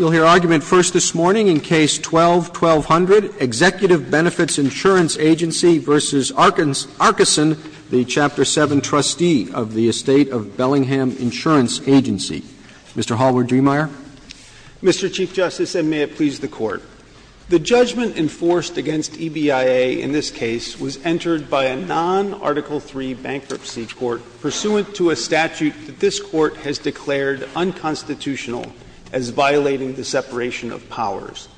, the Chapter 7 trustee of the Estate of Bellingham Insurance Agency. Mr. Hallward-Driemeier. Mr. Chief Justice, and may it please the Court, the judgment enforced against EBIA in this case was entered by a non-Article III bankruptcy court pursuant to a statute that this as violating the separation of powers.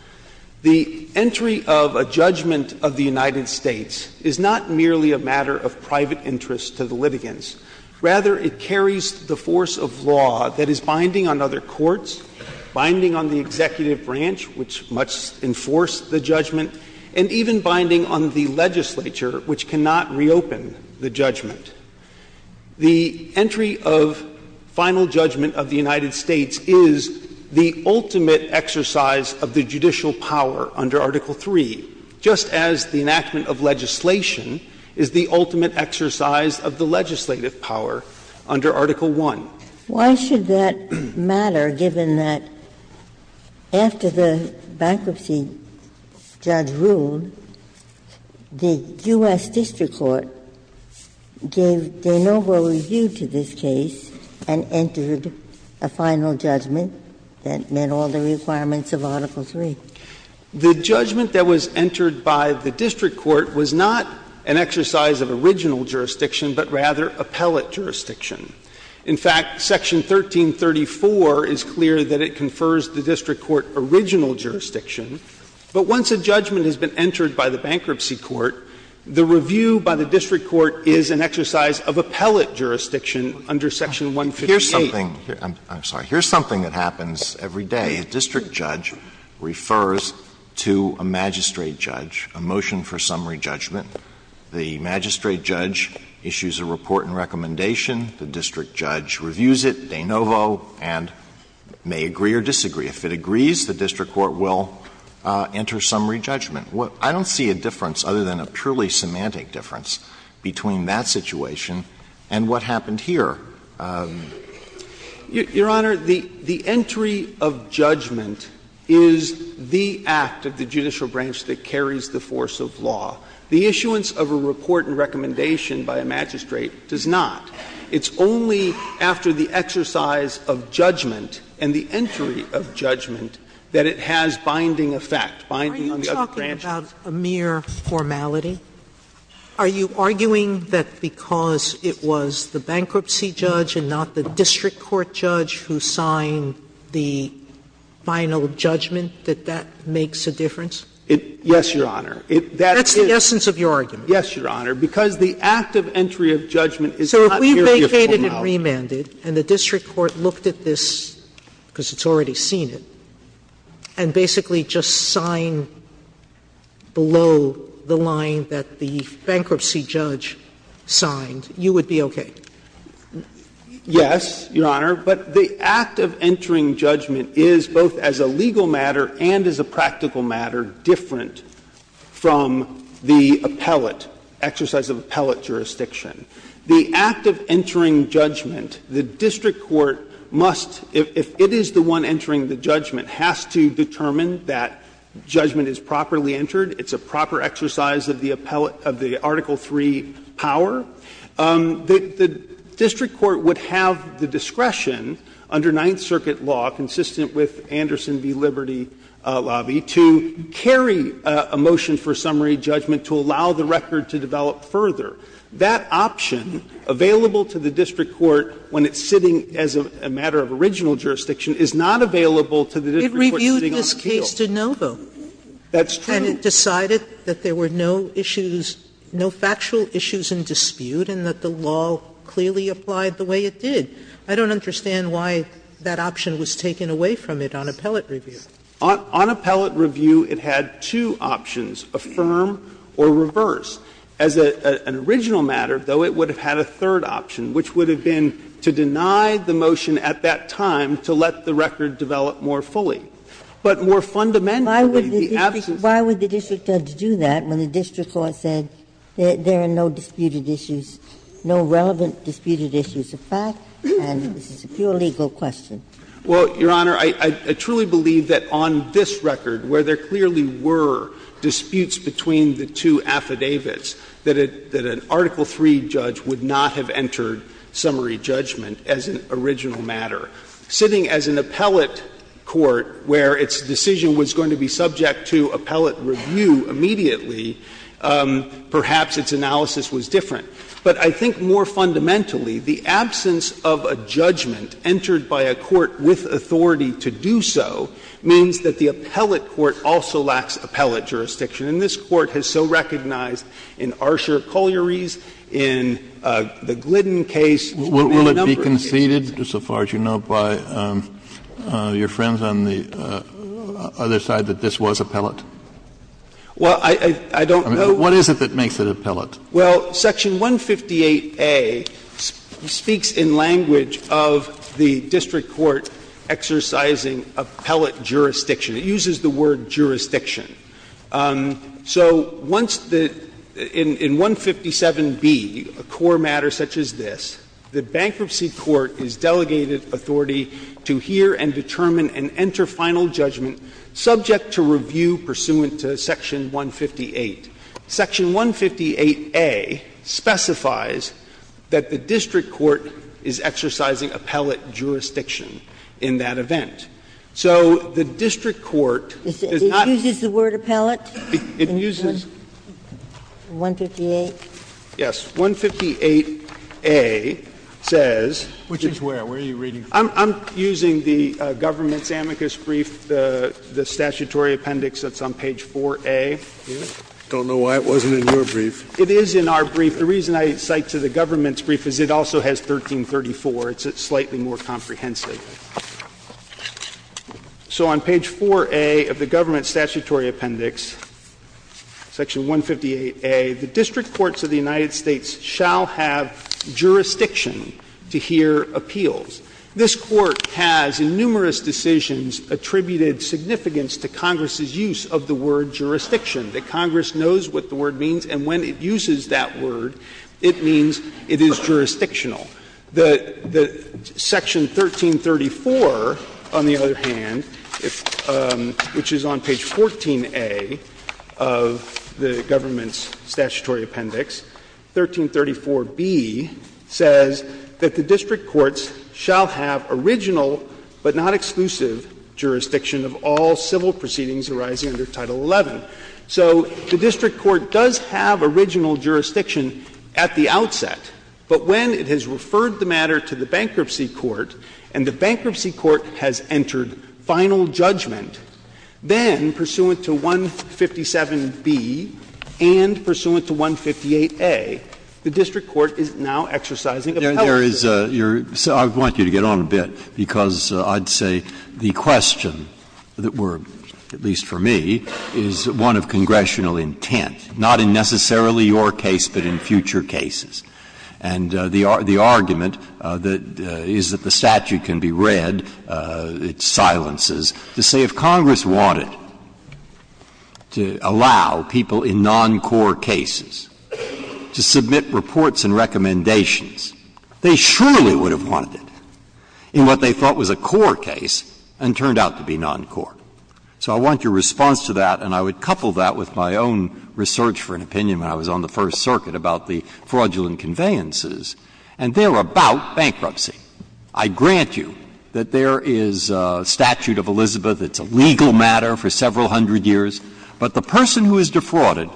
The entry of a judgment of the United States is not merely a matter of private interest to the litigants. Rather, it carries the force of law that is binding on other courts, binding on the executive branch, which must enforce the judgment, and even binding on the legislature, which cannot reopen the judgment. The entry of final judgment of the United States is the ultimate exercise of the judicial power under Article III, just as the enactment of legislation is the ultimate exercise of the legislative power under Article I. Ginsburg Why should that matter, given that after the bankruptcy judge ruled, the U.S. district court gave de novo review to this case and entered a final judgment that met all the requirements of Article III? The judgment that was entered by the district court was not an exercise of original jurisdiction, but rather appellate jurisdiction. In fact, Section 1334 is clear that it confers the district court original jurisdiction, but once a judgment has been entered by the bankruptcy court, the review by the district court is an exercise of appellate jurisdiction under Section 158. Alito I'm sorry. Here's something that happens every day. A district judge refers to a magistrate judge, a motion for summary judgment. The magistrate judge issues a report and recommendation. The district judge reviews it de novo and may agree or disagree. If it agrees, the district court will enter summary judgment. I don't see a difference, other than a purely semantic difference, between that situation and what happened here. Your Honor, the entry of judgment is the act of the judicial branch that carries the force of law. The issuance of a report and recommendation by a magistrate does not. It's only after the exercise of judgment and the entry of judgment that it has binding effect, binding on the other branches. Sotomayor Are you talking about a mere formality? Are you arguing that because it was the bankruptcy judge and not the district court judge who signed the final judgment that that makes a difference? Yes, Your Honor. That's the essence of your argument. Yes, Your Honor. Because the act of entry of judgment is not mere formality. So if we vacated and remanded and the district court looked at this, because it's already seen it, and basically just signed below the line that the bankruptcy judge signed, you would be okay? Yes, Your Honor. But the act of entering judgment is, both as a legal matter and as a practical matter, different from the appellate, exercise of appellate jurisdiction. The act of entering judgment, the district court must, if it is the one entering the judgment, has to determine that judgment is properly entered. It's a proper exercise of the appellate, of the Article III power. The district court would have the discretion under Ninth Circuit law, consistent with Anderson v. Liberty lobby, to carry a motion for summary judgment to allow the record to develop further. That option, available to the district court when it's sitting as a matter of original jurisdiction, is not available to the district court sitting on a keel. It reviewed this case de novo. That's true. And it decided that there were no issues, no factual issues in dispute, and that the law clearly applied the way it did. I don't understand why that option was taken away from it on appellate review. On appellate review, it had two options, affirm or reverse. As an original matter, though, it would have had a third option, which would have been to deny the motion at that time to let the record develop more fully. How would the district judge do that when the district court said there are no disputed issues, no relevant disputed issues of fact, and this is a pure legal question? Well, Your Honor, I truly believe that on this record, where there clearly were disputes between the two affidavits, that an Article III judge would not have entered summary judgment as an original matter. Sitting as an appellate court where its decision was going to be subject to appellate review immediately, perhaps its analysis was different. But I think more fundamentally, the absence of a judgment entered by a court with authority to do so means that the appellate court also lacks appellate jurisdiction. And this Court has so recognized in Archer-Colliery's, in the Glidden case, and in a number of cases. Kennedy, so far as you know, by your friends on the other side, that this was appellate? Well, I don't know. What is it that makes it appellate? Well, Section 158A speaks in language of the district court exercising appellate jurisdiction. It uses the word jurisdiction. So once the — in 157B, a core matter such as this, the bankruptcy court is delegated authority to hear and determine and enter final judgment subject to review pursuant to Section 158. Section 158A specifies that the district court is exercising appellate jurisdiction in that event. So the district court does not — It uses the word appellate? It uses — 158? Yes. 158A says — Which is where? Where are you reading from? I'm using the government's amicus brief, the statutory appendix that's on page 4A. I don't know why it wasn't in your brief. It is in our brief. The reason I cite to the government's brief is it also has 1334. It's slightly more comprehensive. So on page 4A of the government statutory appendix, Section 158A, the district This Court has in numerous decisions attributed significance to Congress's use of the word jurisdiction, that Congress knows what the word means and when it uses that word it means it is jurisdictional. The Section 1334, on the other hand, which is on page 14A of the government's original, but not exclusive, jurisdiction of all civil proceedings arising under Title XI. So the district court does have original jurisdiction at the outset, but when it has referred the matter to the bankruptcy court and the bankruptcy court has entered final judgment, then pursuant to 157B and pursuant to 158A, the district court is now exercising appellate jurisdiction. Breyer. I want you to get on a bit, because I'd say the question that were, at least for me, is one of congressional intent, not in necessarily your case, but in future cases. And the argument is that the statute can be read, it silences, to say if Congress wanted to allow people in non-core cases to submit reports and recommendations they surely would have wanted it in what they thought was a core case and turned out to be non-core. So I want your response to that, and I would couple that with my own research for an opinion when I was on the First Circuit about the fraudulent conveyances, and they're about bankruptcy. I grant you that there is a statute of Elizabeth that's a legal matter for several hundred years, but the person who is defrauded,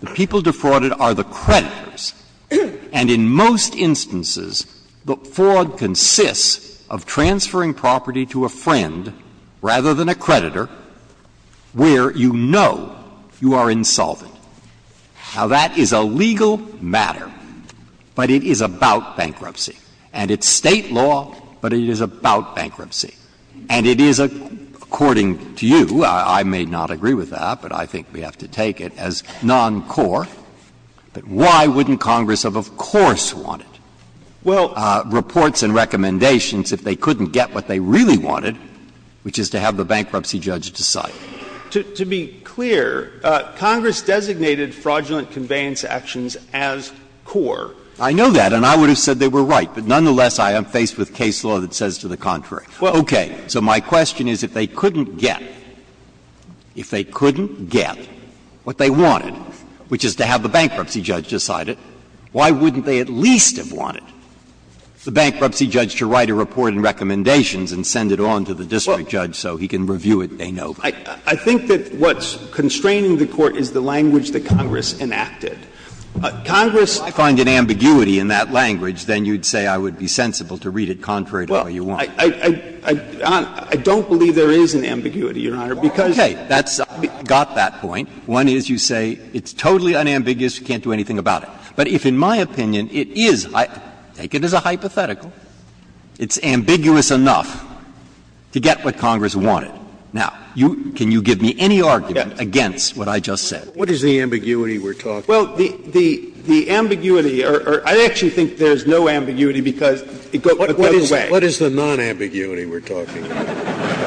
the people defrauded are the creditors, and in most instances, the fraud consists of transferring property to a friend rather than a creditor where you know you are insolvent. Now, that is a legal matter, but it is about bankruptcy. And it's State law, but it is about bankruptcy. And it is, according to you, I may not agree with that, but I think we have to take it as non-core, but why wouldn't Congress have, of course, wanted reports and recommendations if they couldn't get what they really wanted, which is to have the bankruptcy judge decide? To be clear, Congress designated fraudulent conveyance actions as core. I know that, and I would have said they were right, but nonetheless, I am faced with case law that says to the contrary. Okay. So my question is, if they couldn't get, if they couldn't get, what does that mean that they wanted, which is to have the bankruptcy judge decide it, why wouldn't they at least have wanted the bankruptcy judge to write a report and recommendations and send it on to the district judge so he can review it, de novo? I think that what's constraining the Court is the language that Congress enacted. Congress found an ambiguity in that language, then you would say I would be sensible to read it contrary to what you want. Well, I don't believe there is an ambiguity, Your Honor, because Okay. I got that point. One is you say it's totally unambiguous, you can't do anything about it. But if, in my opinion, it is, I take it as a hypothetical, it's ambiguous enough to get what Congress wanted. Now, you, can you give me any argument against what I just said? What is the ambiguity we're talking about? Well, the ambiguity, or I actually think there's no ambiguity because it goes away. What is the non-ambiguity we're talking about?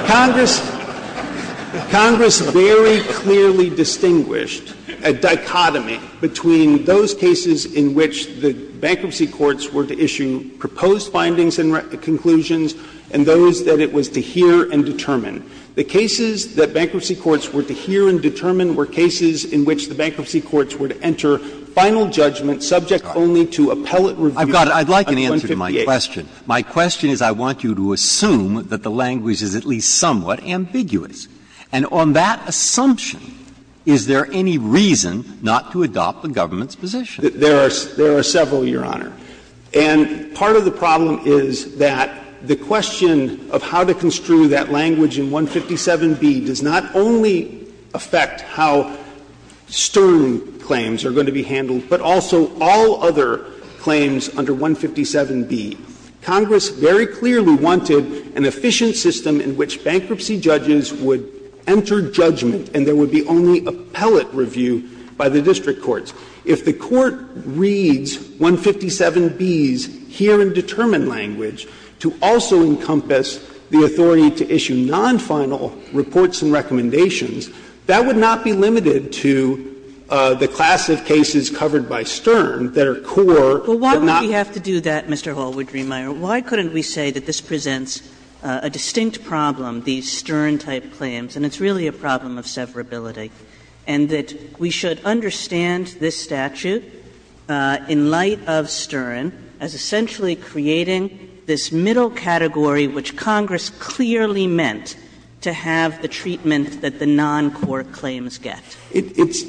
Congress very clearly distinguished a dichotomy between those cases in which the bankruptcy courts were to issue proposed findings and conclusions and those that it was to hear and determine. The cases that bankruptcy courts were to hear and determine were cases in which the bankruptcy courts were to enter final judgment subject only to appellate review on 158. Now, my question is, I want you to assume that the language is at least somewhat ambiguous. And on that assumption, is there any reason not to adopt the government's position? There are several, Your Honor. And part of the problem is that the question of how to construe that language in 157b does not only affect how Stern claims are going to be handled, but also all other claims under 157b. Congress very clearly wanted an efficient system in which bankruptcy judges would enter judgment and there would be only appellate review by the district courts. If the Court reads 157b's hear and determine language to also encompass the authority to issue non-final reports and recommendations, that would not be limited to the class of cases covered by Stern that are core, but not. But why would we have to do that, Mr. Hallwood-Driemeier? Why couldn't we say that this presents a distinct problem, these Stern-type claims, and it's really a problem of severability, and that we should understand this statute in light of Stern as essentially creating this middle category which Congress clearly meant to have the treatment that the non-core claims get? It's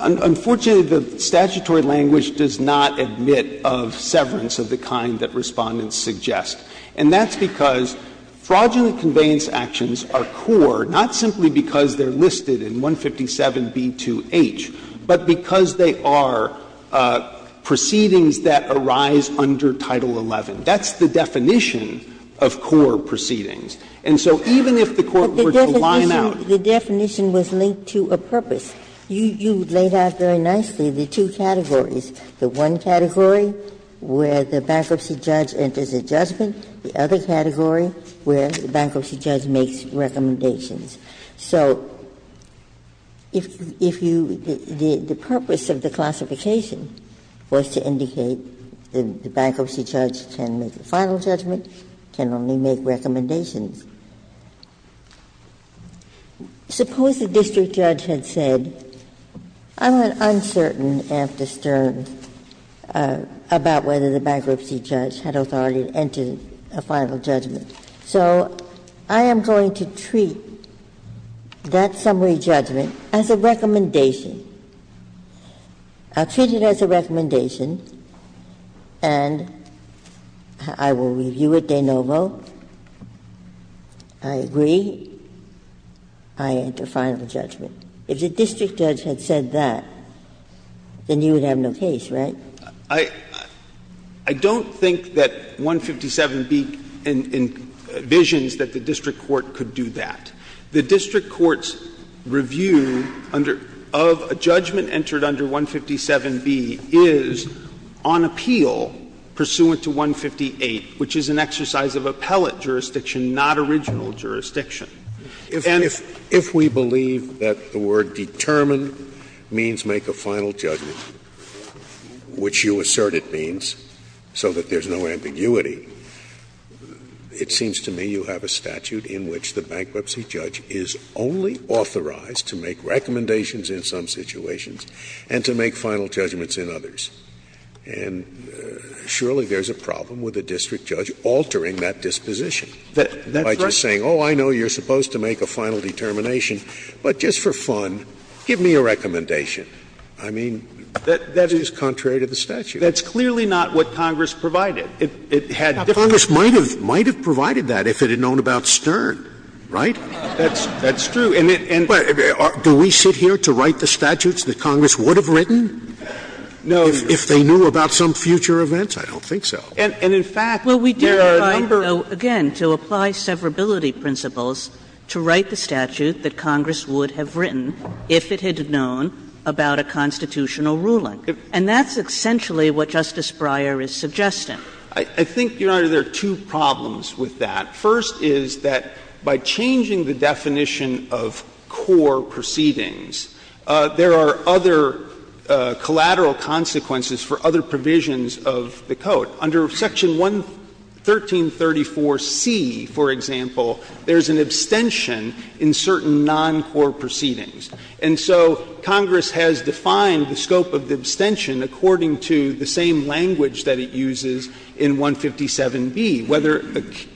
unfortunately, the statutory language does not admit of severance of the kind that Respondents suggest, and that's because fraudulent conveyance actions are core not simply because they're listed in 157b2h, but because they are proceedings that arise under Title XI. That's the definition of core proceedings. And so even if the Court were to line out. Ginsburg-Miller The definition was linked to a purpose. You laid out very nicely the two categories, the one category where the bankruptcy judge enters a judgment, the other category where the bankruptcy judge makes recommendations. So if you the purpose of the classification was to indicate the bankruptcy judge can make a final judgment, can only make recommendations. Suppose the district judge had said, I'm uncertain, after Stern, about whether the bankruptcy judge had authority to enter a final judgment, so I am going to treat that summary judgment as a recommendation. I'll treat it as a recommendation, and I will review it de novo. I agree. I enter final judgment. If the district judge had said that, then you would have no case, right? I don't think that 157b envisions that the district court could do that. The district court's review of a judgment entered under 157b is on appeal pursuant to 158, which is an exercise of appellate jurisdiction, not original jurisdiction. Scalia And if we believe that the word determine means make a final judgment, which you assert it means so that there's no ambiguity, it seems to me you have a statute in which the bankruptcy judge is only authorized to make recommendations in some situations and to make final judgments in others. And surely there's a problem with the district judge altering that disposition by just saying, oh, I know you're supposed to make a final determination, but just for fun, give me a recommendation. I mean, that is contrary to the statute. That's clearly not what Congress provided. It had different. Congress might have provided that if it had known about Stern, right? That's true. Do we sit here to write the statutes that Congress would have written? If they knew about some future events, I don't think so. And, in fact, there are a number of others. Kagan Well, we did provide, though, again, to apply severability principles to write the statute that Congress would have written if it had known about a constitutional ruling, and that's essentially what Justice Breyer is suggesting. I think, Your Honor, there are two problems with that. First is that by changing the definition of core proceedings, there are other collateral consequences for other provisions of the Code. Under Section 1334C, for example, there's an abstention in certain non-core proceedings. And so Congress has defined the scope of the abstention according to the same language that it uses in 157B, whether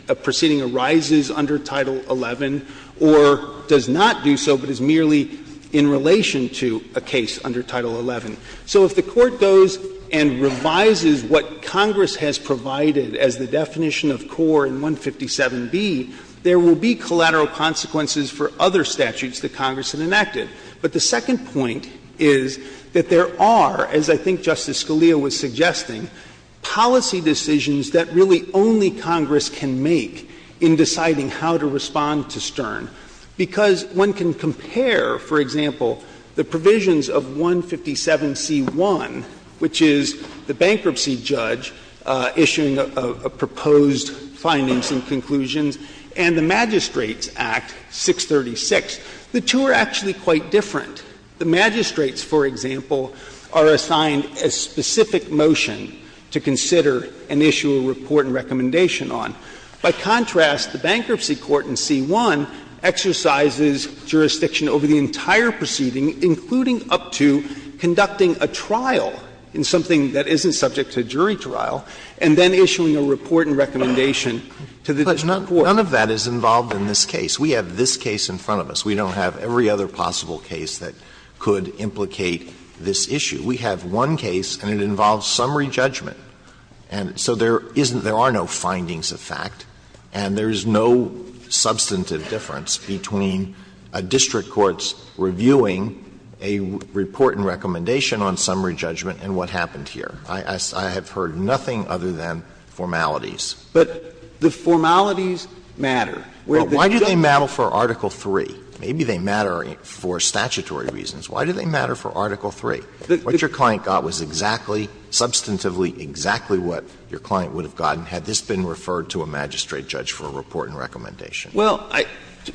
a proceeding arises under Title XI or does not do so but is merely in relation to a case under Title XI. So if the Court goes and revises what Congress has provided as the definition of core in 157B, there will be collateral consequences for other statutes that Congress had enacted. But the second point is that there are, as I think Justice Scalia was suggesting, policy decisions that really only Congress can make in deciding how to respond to Stern. Because one can compare, for example, the provisions of 157C1, which is the bankruptcy judge issuing a proposed findings and conclusions, and the Magistrates Act 636. The two are actually quite different. The magistrates, for example, are assigned a specific motion to consider and issue a report and recommendation on. By contrast, the bankruptcy court in C1 exercises jurisdiction over the entire proceeding, including up to conducting a trial in something that isn't subject to jury trial, and then issuing a report and recommendation to the court. Scalia. None of that is involved in this case. We have this case in front of us. We don't have every other possible case that could implicate this issue. We have one case, and it involves summary judgment. And so there isn't — there are no findings of fact, and there is no substantive difference between a district court's reviewing a report and recommendation on summary judgment and what happened here. I have heard nothing other than formalities. But the formalities matter. Alito, why do they matter for Article III? Maybe they matter for statutory reasons. Why do they matter for Article III? What your client got was exactly, substantively exactly what your client would have gotten had this been referred to a magistrate judge for a report and recommendation. Well,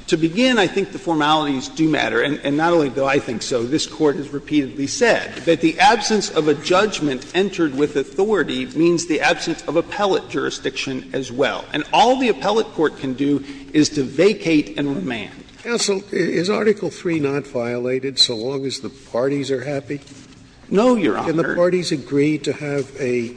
to begin, I think the formalities do matter. And not only do I think so, this Court has repeatedly said that the absence of a judgment entered with authority means the absence of appellate jurisdiction as well. And all the appellate court can do is to vacate and remand. Scalia, is Article III not violated so long as the parties are happy? No, Your Honor. Can the parties agree to have a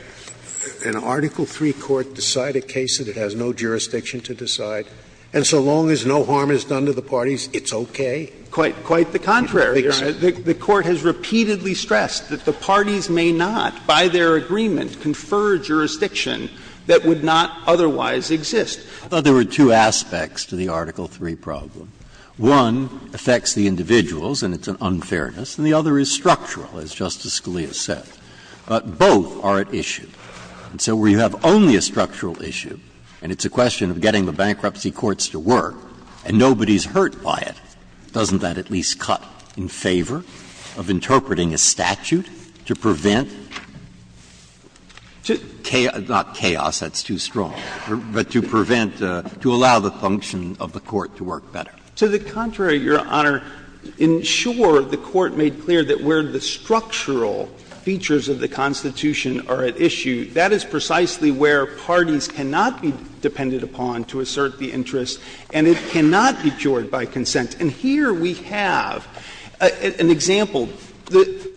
— an Article III court decide a case that it has no jurisdiction to decide, and so long as no harm is done to the parties, it's okay? Quite the contrary, Your Honor. The Court has repeatedly stressed that the parties may not, by their agreement, confer jurisdiction that would not otherwise exist. There were two aspects to the Article III problem. One affects the individuals, and it's an unfairness, and the other is structural, as Justice Scalia said. But both are at issue. And so where you have only a structural issue, and it's a question of getting the bankruptcy courts to work, and nobody's hurt by it, doesn't that at least cut in favor of interpreting a statute to prevent chaos — not chaos, that's too strong — but to prevent, to allow the function of the court to work better? To the contrary, Your Honor. Ensure the Court made clear that where the structural features of the Constitution are at issue, that is precisely where parties cannot be dependent upon to assert the interest, and it cannot be cured by consent. And here we have an example.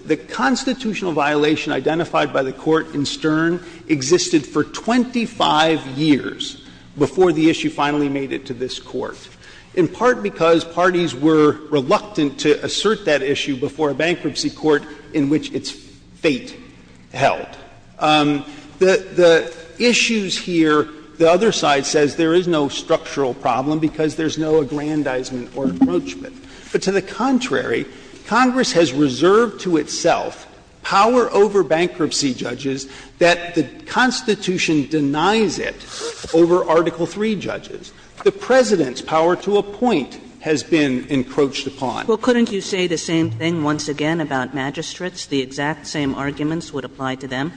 The constitutional violation identified by the Court in Stern existed for 25 years before the issue finally made it to this Court, in part because parties were reluctant to assert that issue before a bankruptcy court in which its fate held. The issues here, the other side says there is no structural problem because there's no aggrandizement or encroachment. But to the contrary, Congress has reserved to itself power over bankruptcy judges that the Constitution denies it over Article III judges. The President's power to appoint has been encroached upon. Kagan. Well, couldn't you say the same thing once again about magistrates, the exact same arguments would apply to them?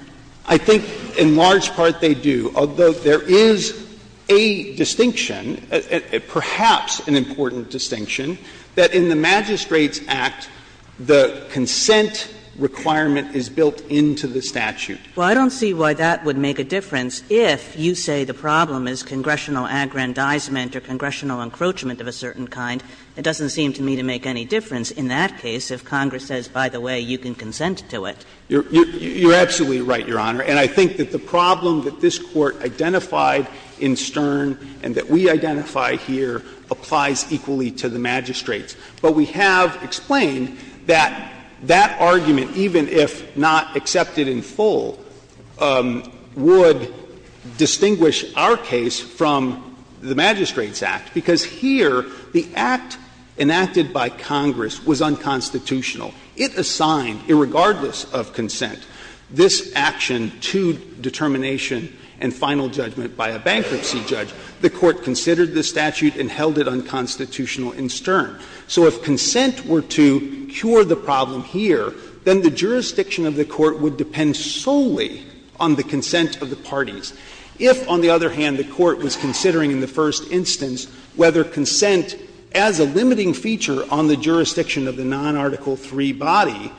I think in large part they do, although there is a distinction, perhaps an important distinction, that in the Magistrates Act, the consent requirement is built into the statute. Well, I don't see why that would make a difference if you say the problem is congressional aggrandizement or congressional encroachment of a certain kind. It doesn't seem to me to make any difference in that case if Congress says, by the way, you can consent to it. You're absolutely right, Your Honor. And I think that the problem that this Court identified in Stern and that we identify here applies equally to the magistrates. But we have explained that that argument, even if not accepted in full, would distinguish our case from the Magistrates Act, because here the act enacted by Congress was unconstitutional. It assigned, irregardless of consent, this action to determination and final judgment by a bankruptcy judge. The Court considered the statute and held it unconstitutional in Stern. So if consent were to cure the problem here, then the jurisdiction of the Court would depend solely on the consent of the parties. If, on the other hand, the Court was considering in the first instance whether consent, as a limiting feature on the jurisdiction of the non-Article III body,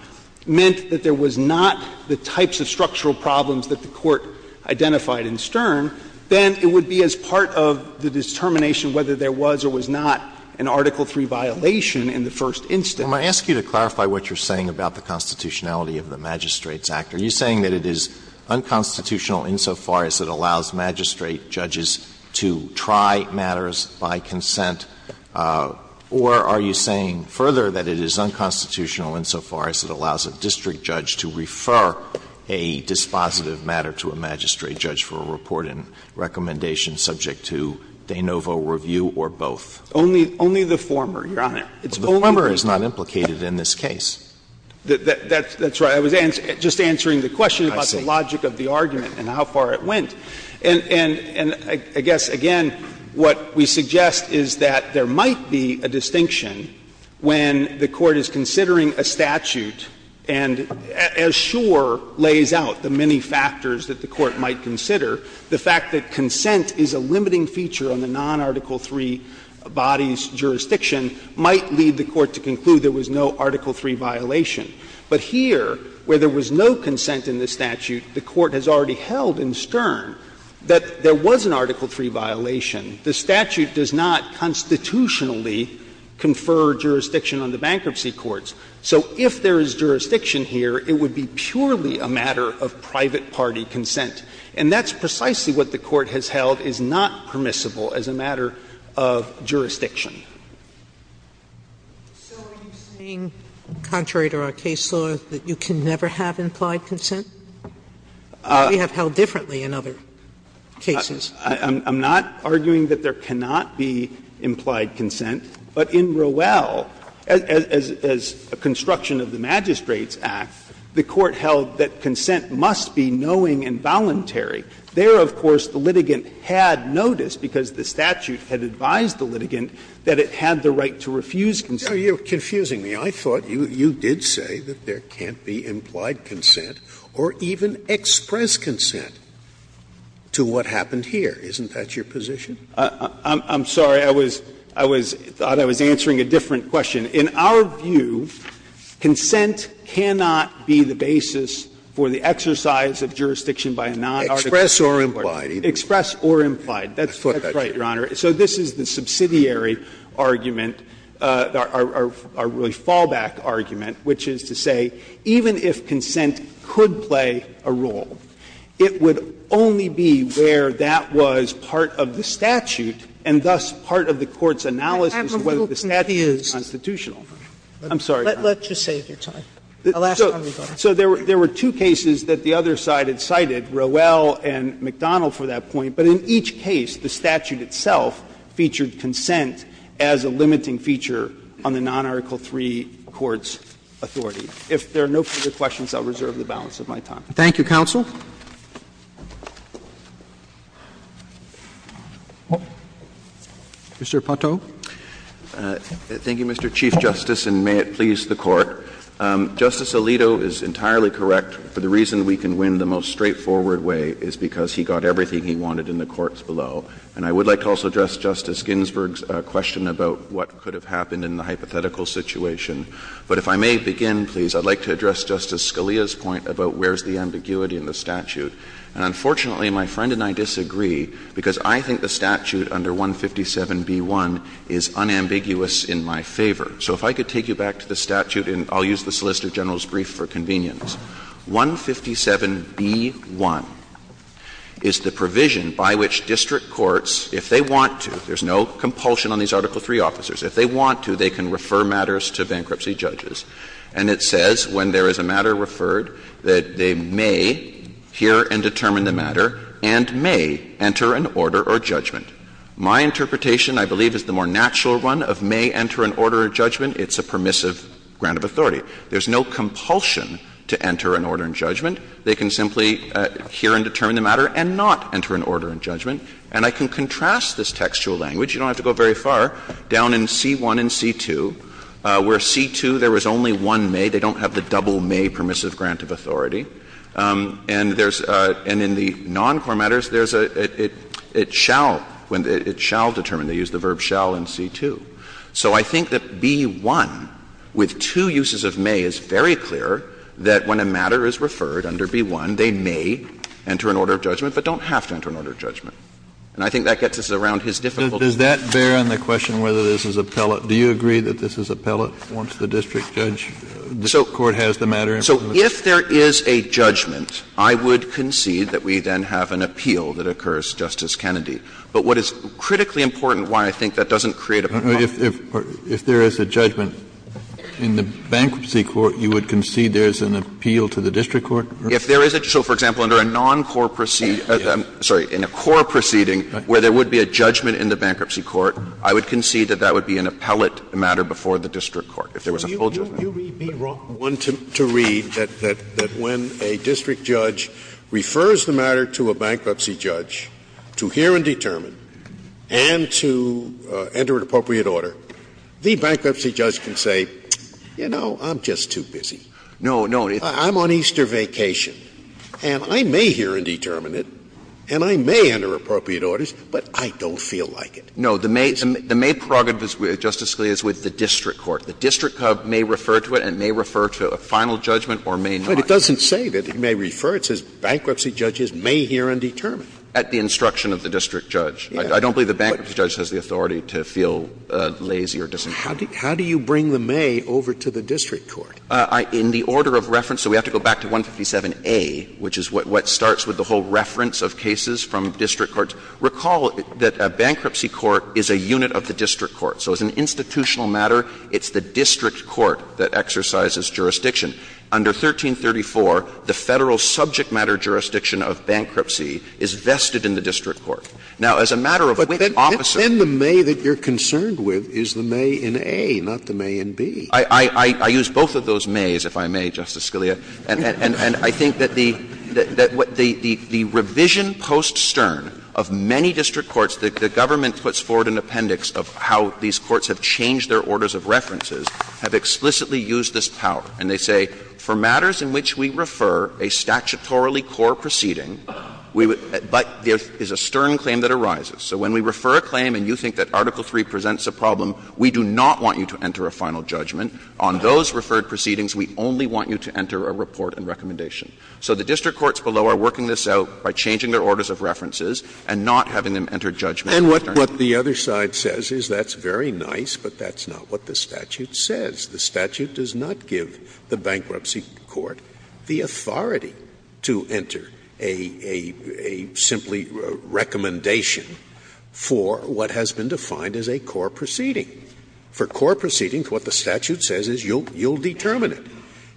meant that there was not the types of structural problems that the Court identified in Stern, then it would be as part of the determination whether there was or was not an Article III violation in the first instance. Alitoson, I ask you to clarify what you're saying about the constitutionality of the Magistrates Act. Are you saying that it is unconstitutional insofar as it allows magistrate judges to try matters by consent, or are you saying further that it is unconstitutional insofar as it allows a district judge to refer a dispositive matter to a magistrate judge for a report and recommendation subject to de novo review or both? Only the former, Your Honor. It's only the former. But the former is not implicated in this case. That's right. I was just answering the question about the logic of the argument and how far it went. And I guess, again, what we suggest is that there might be a distinction when the Court is considering a statute and, as Schor lays out, the many factors that the Court might consider, the fact that consent is a limiting feature on the non-Article III body's jurisdiction might lead the Court to conclude there was no Article III violation. But here, where there was no consent in the statute, the Court has already held in Stern that there was an Article III violation. The statute does not constitutionally confer jurisdiction on the bankruptcy courts. So if there is jurisdiction here, it would be purely a matter of private party consent. And that's precisely what the Court has held is not permissible as a matter of jurisdiction. Sotomayor, are you saying, contrary to our case law, that you can never have implied consent? We have held differently in other cases. I'm not arguing that there cannot be implied consent. But in Rowell, as a construction of the Magistrate's Act, the Court held that consent must be knowing and voluntary. There, of course, the litigant had notice, because the statute had advised the litigant that it had the right to refuse consent. Scalia You're confusing me. I thought you did say that there can't be implied consent or even express consent to what happened here. Isn't that your position? I'm sorry. I was thought I was answering a different question. In our view, consent cannot be the basis for the exercise of jurisdiction by a non-Article III court. Express or implied. Express or implied. That's right, Your Honor. So this is the subsidiary argument, our really fallback argument, which is to say, even if consent could play a role, it would only be where that was part of the statute and thus part of the Court's analysis of whether the statute is constitutional. I'm sorry, Your Honor. Sotomayor Let's just save your time. I'll ask how we got here. So there were two cases that the other side had cited, Rowell and McDonnell for that point, but in each case, the statute itself featured consent as a limiting feature on the non-Article III court's authority. If there are no further questions, I'll reserve the balance of my time. Thank you, counsel. Mr. Pato. Thank you, Mr. Chief Justice, and may it please the Court. Justice Alito is entirely correct. For the reason we can win the most straightforward way is because he got everything he wanted in the courts below. And I would like to also address Justice Ginsburg's question about what could have happened in the hypothetical situation. But if I may begin, please, I'd like to address Justice Scalia's point about where is the ambiguity in the statute. And unfortunately, my friend and I disagree, because I think the statute under 157b1 is unambiguous in my favor. So if I could take you back to the statute, and I'll use the Solicitor General's convenience, 157b1 is the provision by which district courts, if they want to, there's no compulsion on these Article III officers, if they want to, they can refer matters to bankruptcy judges, and it says when there is a matter referred that they may hear and determine the matter and may enter an order or judgment. My interpretation, I believe, is the more natural one of may enter an order or judgment. It's a permissive grant of authority. There's no compulsion to enter an order and judgment. They can simply hear and determine the matter and not enter an order and judgment. And I can contrast this textual language, you don't have to go very far, down in C1 and C2, where C2 there was only one may, they don't have the double may permissive grant of authority. And there's — and in the noncore matters, there's a — it shall, it shall determine. They use the verb shall in C2. So I think that B1, with two uses of may, is very clear that when a matter is referred under B1, they may enter an order of judgment, but don't have to enter an order of judgment. And I think that gets us around his difficulty. Kennedy. Does that bear on the question whether this is appellate? Do you agree that this is appellate once the district judge, the district court has the matter in front of them? So if there is a judgment, I would concede that we then have an appeal that occurs, Justice Kennedy. But what is critically important, why I think that doesn't create a problem. Kennedy. If there is a judgment in the bankruptcy court, you would concede there is an appeal to the district court? If there is a — so, for example, under a noncore proceeding — I'm sorry, in a core proceeding where there would be a judgment in the bankruptcy court, I would concede that that would be an appellate matter before the district court, if there was a full judgment. Scalia. Would you be wrong one to read that when a district judge refers the matter to a bankruptcy judge to hear and determine and to enter an appropriate order, the bankruptcy judge can say, you know, I'm just too busy? No, no. I'm on Easter vacation, and I may hear and determine it, and I may enter appropriate orders, but I don't feel like it. No. The may prerogative, Justice Scalia, is with the district court. The district court may refer to it and may refer to a final judgment or may not. But it doesn't say that it may refer. It says bankruptcy judges may hear and determine. At the instruction of the district judge. I don't believe the bankruptcy judge has the authority to feel lazy or disinclined. How do you bring the may over to the district court? In the order of reference, so we have to go back to 157A, which is what starts with the whole reference of cases from district courts. Recall that a bankruptcy court is a unit of the district court. So as an institutional matter, it's the district court that exercises jurisdiction. Under 1334, the Federal subject matter jurisdiction of bankruptcy is vested in the district court. Now, as a matter of which officer. Scalia, then the may that you're concerned with is the may in A, not the may in B. I use both of those mays, if I may, Justice Scalia. And I think that the revision post-Stern of many district courts, the government puts forward an appendix of how these courts have changed their orders of references, have explicitly used this power. And they say, for matters in which we refer a statutorily core proceeding, but there is a Stern claim that arises. So when we refer a claim and you think that Article III presents a problem, we do not want you to enter a final judgment. On those referred proceedings, we only want you to enter a report and recommendation. So the district courts below are working this out by changing their orders of references and not having them enter judgment. Scalia, and what the other side says is that's very nice, but that's not what the statute says. The statute does not give the bankruptcy court the authority to enter a simply recommendation for what has been defined as a core proceeding. For core proceedings, what the statute says is you'll determine it.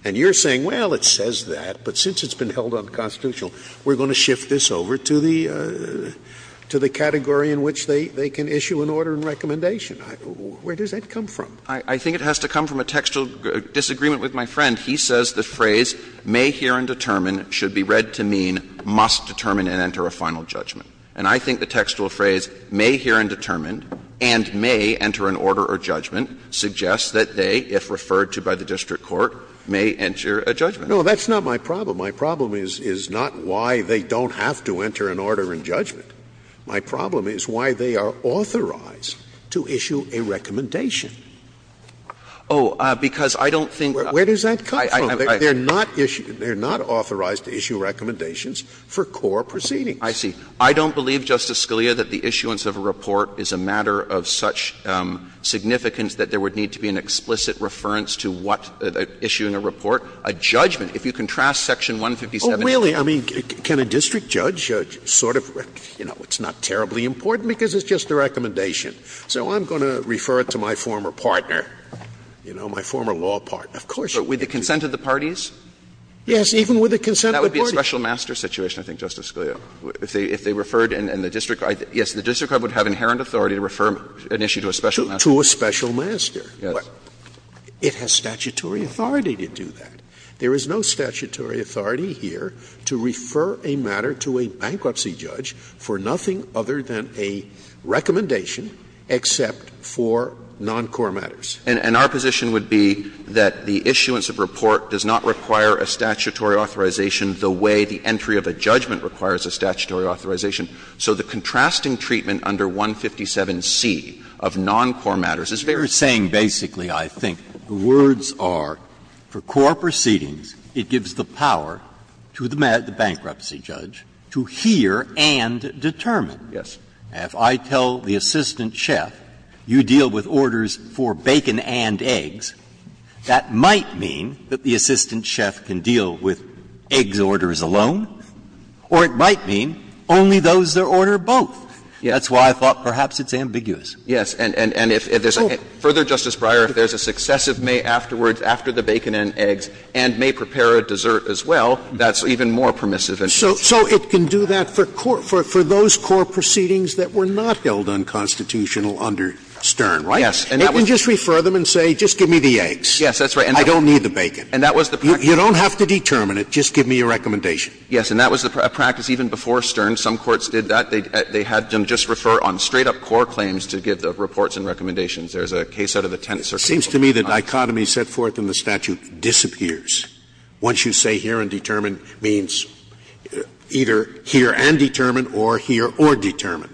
And you're saying, well, it says that, but since it's been held unconstitutional, we're going to shift this over to the category in which they can issue an order and recommendation. Where does that come from? I think it has to come from a textual disagreement with my friend. He says the phrase, may hear and determine, should be read to mean, must determine and enter a final judgment. And I think the textual phrase, may hear and determine, and may enter an order or judgment, suggests that they, if referred to by the district court, may enter a judgment. No, that's not my problem. My problem is not why they don't have to enter an order and judgment. My problem is why they are authorized to issue a recommendation. Oh, because I don't think that's where does that come from? They are not authorized to issue recommendations for core proceedings. I see. I don't believe, Justice Scalia, that the issuance of a report is a matter of such significance that there would need to be an explicit reference to what, issuing a report, a judgment. If you contrast Section 157 and 158. Oh, really? I mean, can a district judge sort of, you know, it's not terribly important because it's just a recommendation. So I'm going to refer it to my former partner, you know, my former law partner. Of course you can. But with the consent of the parties? Yes, even with the consent of the parties. That would be a special master situation, I think, Justice Scalia. If they referred and the district court, yes, the district court would have inherent authority to refer an issue to a special master. To a special master. Yes. It has statutory authority to do that. There is no statutory authority here to refer a matter to a bankruptcy judge for nothing other than a recommendation except for non-core matters. And our position would be that the issuance of a report does not require a statutory authorization the way the entry of a judgment requires a statutory authorization. So the contrasting treatment under 157C of non-core matters is very different. You're saying basically, I think, the words are, for core proceedings, it gives the power to the bankruptcy judge to hear and determine. Yes. If I tell the assistant chef, you deal with orders for bacon and eggs, that might mean that the assistant chef can deal with eggs orders alone, or it might mean only those that order both. That's why I thought perhaps it's ambiguous. Yes. And if there's a further, Justice Breyer, if there's a successive may afterwards after the bacon and eggs and may prepare a dessert as well, that's even more permissive. So it can do that for those core proceedings that were not held unconstitutional under Stern, right? Yes. And that was the practice. It can just refer them and say, just give me the eggs. Yes, that's right. I don't need the bacon. And that was the practice. You don't have to determine it. Just give me a recommendation. Yes. And that was the practice even before Stern. Some courts did that. They had them just refer on straight-up core claims to give the reports and recommendations. There's a case out of the Tennessee Court of Appeals. It seems to me the dichotomy set forth in the statute disappears once you say here and determine means either here and determine or here or determine.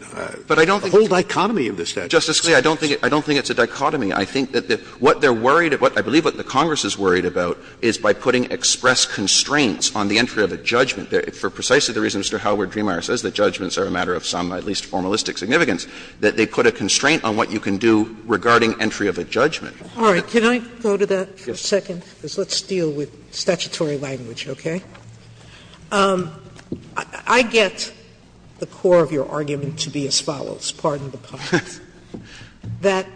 But I don't think the whole dichotomy of the statute is the same. Justice Scalia, I don't think it's a dichotomy. I think that what they're worried about, I believe what the Congress is worried about, is by putting express constraints on the entry of a judgment. For precisely the reason Mr. Howard-Dremeier says that judgments are a matter of some at least formalistic significance, that they put a constraint on what you can do regarding entry of a judgment. Sotomayor, can I go to that for a second, because let's deal with statutory language, okay? I get the core of your argument to be as follows, pardon the pun, that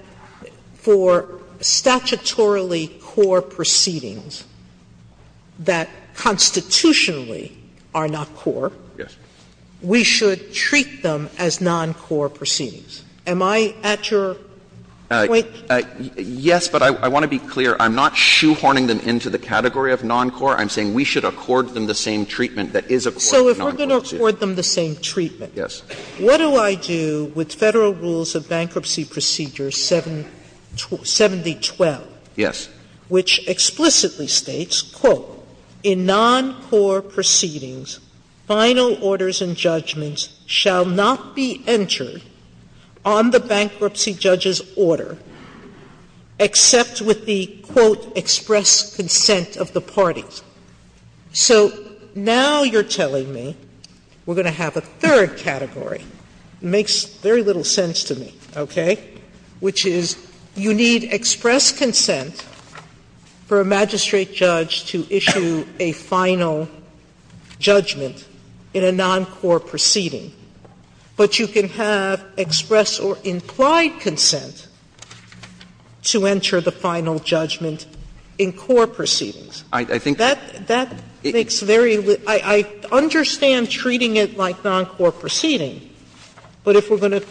for statutorily core proceedings that constitutionally are not core, we should treat them as non-core proceedings. Am I at your point? Yes, but I want to be clear. I'm not shoehorning them into the category of non-core. I'm saying we should accord them the same treatment that is accorded to non-core proceedings. Sotomayor, so if we're going to accord them the same treatment, what do I do with Federal Rules of Bankruptcy Procedure 7012, which explicitly states, quote, in non-core proceedings, final orders and judgments shall not be entered on the bankruptcy judge's order except with the, quote, express consent of the parties. So now you're telling me we're going to have a third category. It makes very little sense to me, okay, which is you need express consent for a magistrate judge to issue a final judgment in a non-core proceeding, but you can have express or implied consent to enter the final judgment in core proceedings. That makes very little sense. I understand treating it like non-core proceeding, but if we're going to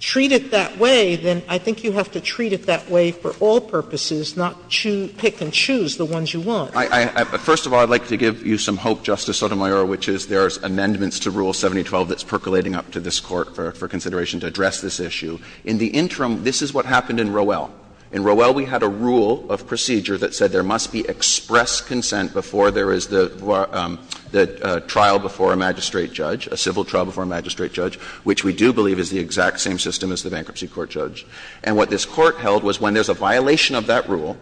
treat it that way, then I think you have to treat it that way for all purposes, not pick and choose the ones you want. First of all, I'd like to give you some hope, Justice Sotomayor, which is there are amendments to Rule 7012 that's percolating up to this Court for consideration to address this issue. In the interim, this is what happened in Rowell. In Rowell, we had a rule of procedure that said there must be express consent before there is the trial before a magistrate judge, a civil trial before a magistrate judge, which we do believe is the exact same system as the bankruptcy court judge. And what this Court held was when there's a violation of that rule,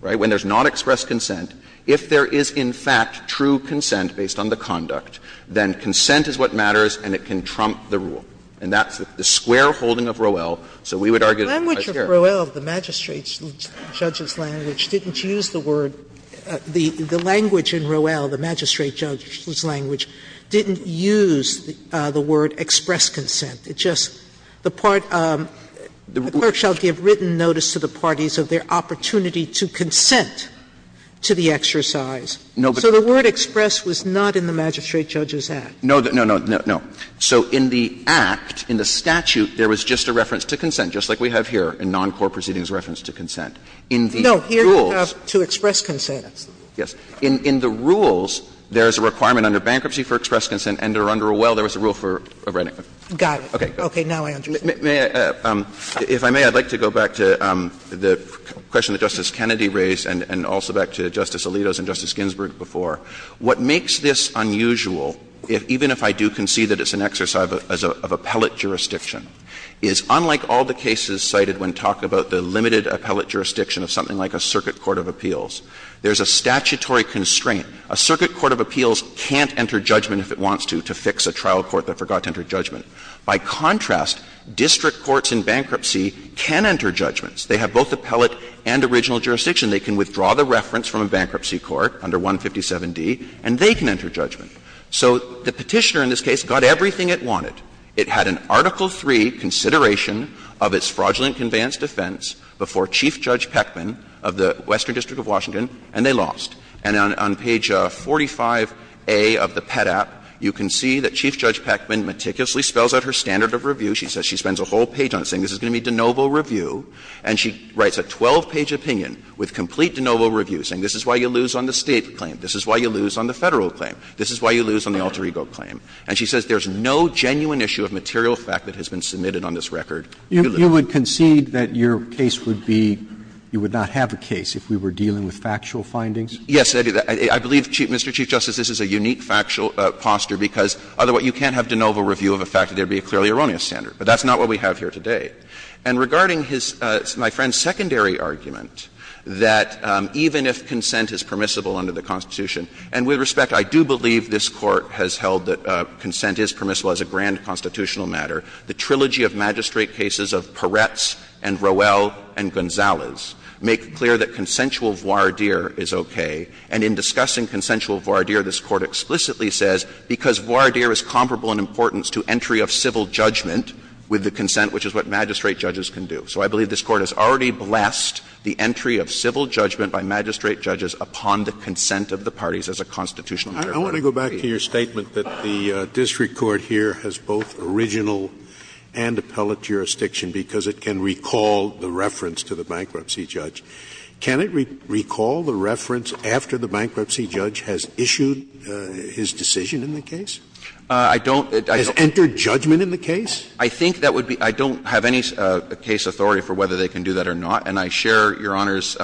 right, when there's not express consent, if there is, in fact, true consent based on the conduct, then consent is what matters and it can trump the rule. And that's the square holding of Rowell, so we would argue that it's fair. Sotomayor, the language of Rowell, the magistrate judge's language, didn't use the word the language in Rowell, the magistrate judge's language, didn't use the word express consent. It just, the part, the clerk shall give written notice to the parties of their opportunity to consent to the exercise. So the word express was not in the magistrate judge's act. No, no, no. So in the act, in the statute, there was just a reference to consent, just like we have here in non-core proceedings reference to consent. In the rules. No, here you have to express consent. Yes. In the rules, there is a requirement under bankruptcy for express consent and under Rowell, there was a rule for writing. Got it. Okay, now I understand. May I, if I may, I'd like to go back to the question that Justice Kennedy raised and also back to Justice Alito's and Justice Ginsburg before. What makes this unusual, even if I do concede that it's an exercise of appellate jurisdiction, is unlike all the cases cited when talking about the limited appellate jurisdiction of something like a circuit court of appeals, there's a statutory constraint. A circuit court of appeals can't enter judgment if it wants to, to fix a trial court that forgot to enter judgment. By contrast, district courts in bankruptcy can enter judgments. They have both appellate and original jurisdiction. They can withdraw the reference from a bankruptcy court under 157D, and they can enter judgment. So the Petitioner in this case got everything it wanted. It had an Article III consideration of its fraudulent conveyance defense before Chief Judge Peckman of the Western District of Washington, and they lost. And on page 45A of the PEDAP, you can see that Chief Judge Peckman meticulously spells out her standard of review. She says she spends a whole page on it, saying this is going to be de novo review. And she writes a 12-page opinion with complete de novo review, saying this is why you lose on the State claim, this is why you lose on the Federal claim, this is why you lose on the alter ego claim. And she says there's no genuine issue of material fact that has been submitted on this record. Roberts. You would concede that your case would be you would not have a case if we were dealing with factual findings? Yes, I believe, Mr. Chief Justice, this is a unique factual posture because, otherwise, you can't have de novo review of a fact that there would be a clearly erroneous standard, but that's not what we have here today. And regarding his, my friend's, secondary argument that even if consent is permissible under the Constitution, and with respect, I do believe this Court has held that consent is permissible as a grand constitutional matter. The trilogy of magistrate cases of Peretz and Rowell and Gonzalez make clear that consensual voir dire is okay, and in discussing consensual voir dire, this Court explicitly says, because voir dire is comparable in importance to entry of civil judgment with the consent, which is what magistrate judges can do. So I believe this Court has already blessed the entry of civil judgment by magistrate judges upon the consent of the parties as a constitutional matter. Scalia, I want to go back to your statement that the district court here has both original and appellate jurisdiction because it can recall the reference to the bankruptcy judge. Can it recall the reference after the bankruptcy judge has issued his decision in the case? Has entered judgment in the case? I think that would be — I don't have any case authority for whether they can do that or not, and I share Your Honor's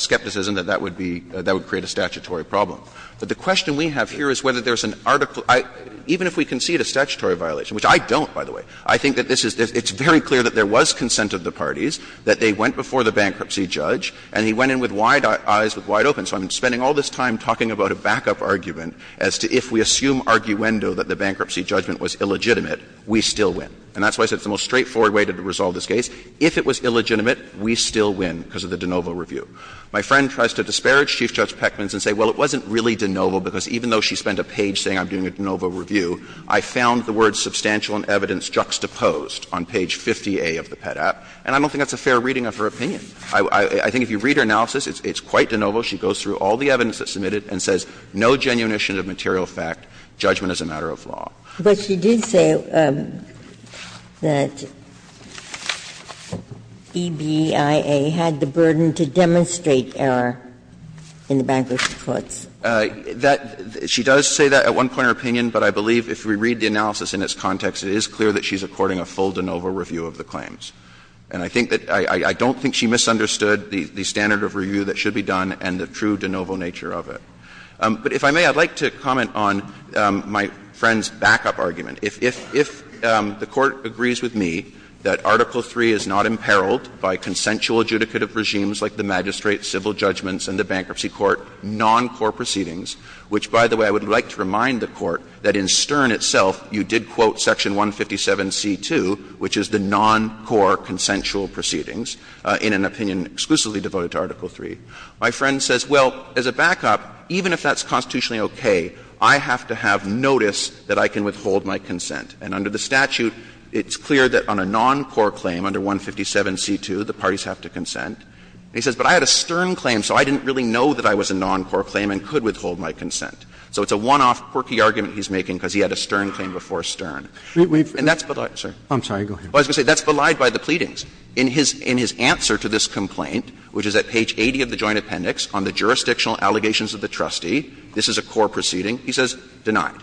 skepticism that that would be — that would create a statutory problem. But the question we have here is whether there's an article — even if we concede a statutory violation, which I don't, by the way, I think that this is — it's very clear that there was consent of the parties, that they went before the bankruptcy judge, and he went in with wide eyes, with wide open. So I'm spending all this time talking about a backup argument as to if we assume arguendo that the bankruptcy judgment was illegitimate, we still win. And that's why I said it's the most straightforward way to resolve this case. If it was illegitimate, we still win because of the de novo review. My friend tries to disparage Chief Judge Peckman and say, well, it wasn't really de novo because even though she spent a page saying I'm doing a de novo review, I found the words substantial and evidence juxtaposed on page 50A of the Pet Act. And I don't think that's a fair reading of her opinion. I think if you read her analysis, it's quite de novo. She goes through all the evidence that's submitted and says no genuine issue of material fact, judgment is a matter of law. Ginsburg. But she did say that EBIA had the burden to demonstrate error in the bankruptcy courts. She does say that at one point in her opinion, but I believe if we read the analysis in its context, it is clear that she's according a full de novo review of the claims. And I think that — I don't think she misunderstood the standard of review that should be done and the true de novo nature of it. But if I may, I'd like to comment on my friend's backup argument. If the Court agrees with me that Article III is not imperiled by consensual adjudicative regimes like the magistrate, civil judgments, and the bankruptcy court, non-core proceedings, which, by the way, I would like to remind the Court that in Stern itself you did quote section 157c2, which is the non-core consensual proceedings, in an opinion exclusively devoted to Article III, my friend says, well, as a backup, even if that's constitutionally okay, I have to have notice that I can withhold my consent. And under the statute, it's clear that on a non-core claim under 157c2, the parties have to consent. And he says, but I had a Stern claim, so I didn't really know that I was a non-core claim and could withhold my consent. So it's a one-off quirky argument he's making because he had a Stern claim before Stern. And that's belied, sir. Robertson, I'm sorry. Go ahead. Well, I was going to say, that's belied by the pleadings. In his answer to this complaint, which is at page 80 of the Joint Appendix on the jurisdictional allegations of the trustee, this is a core proceeding, he says, denied.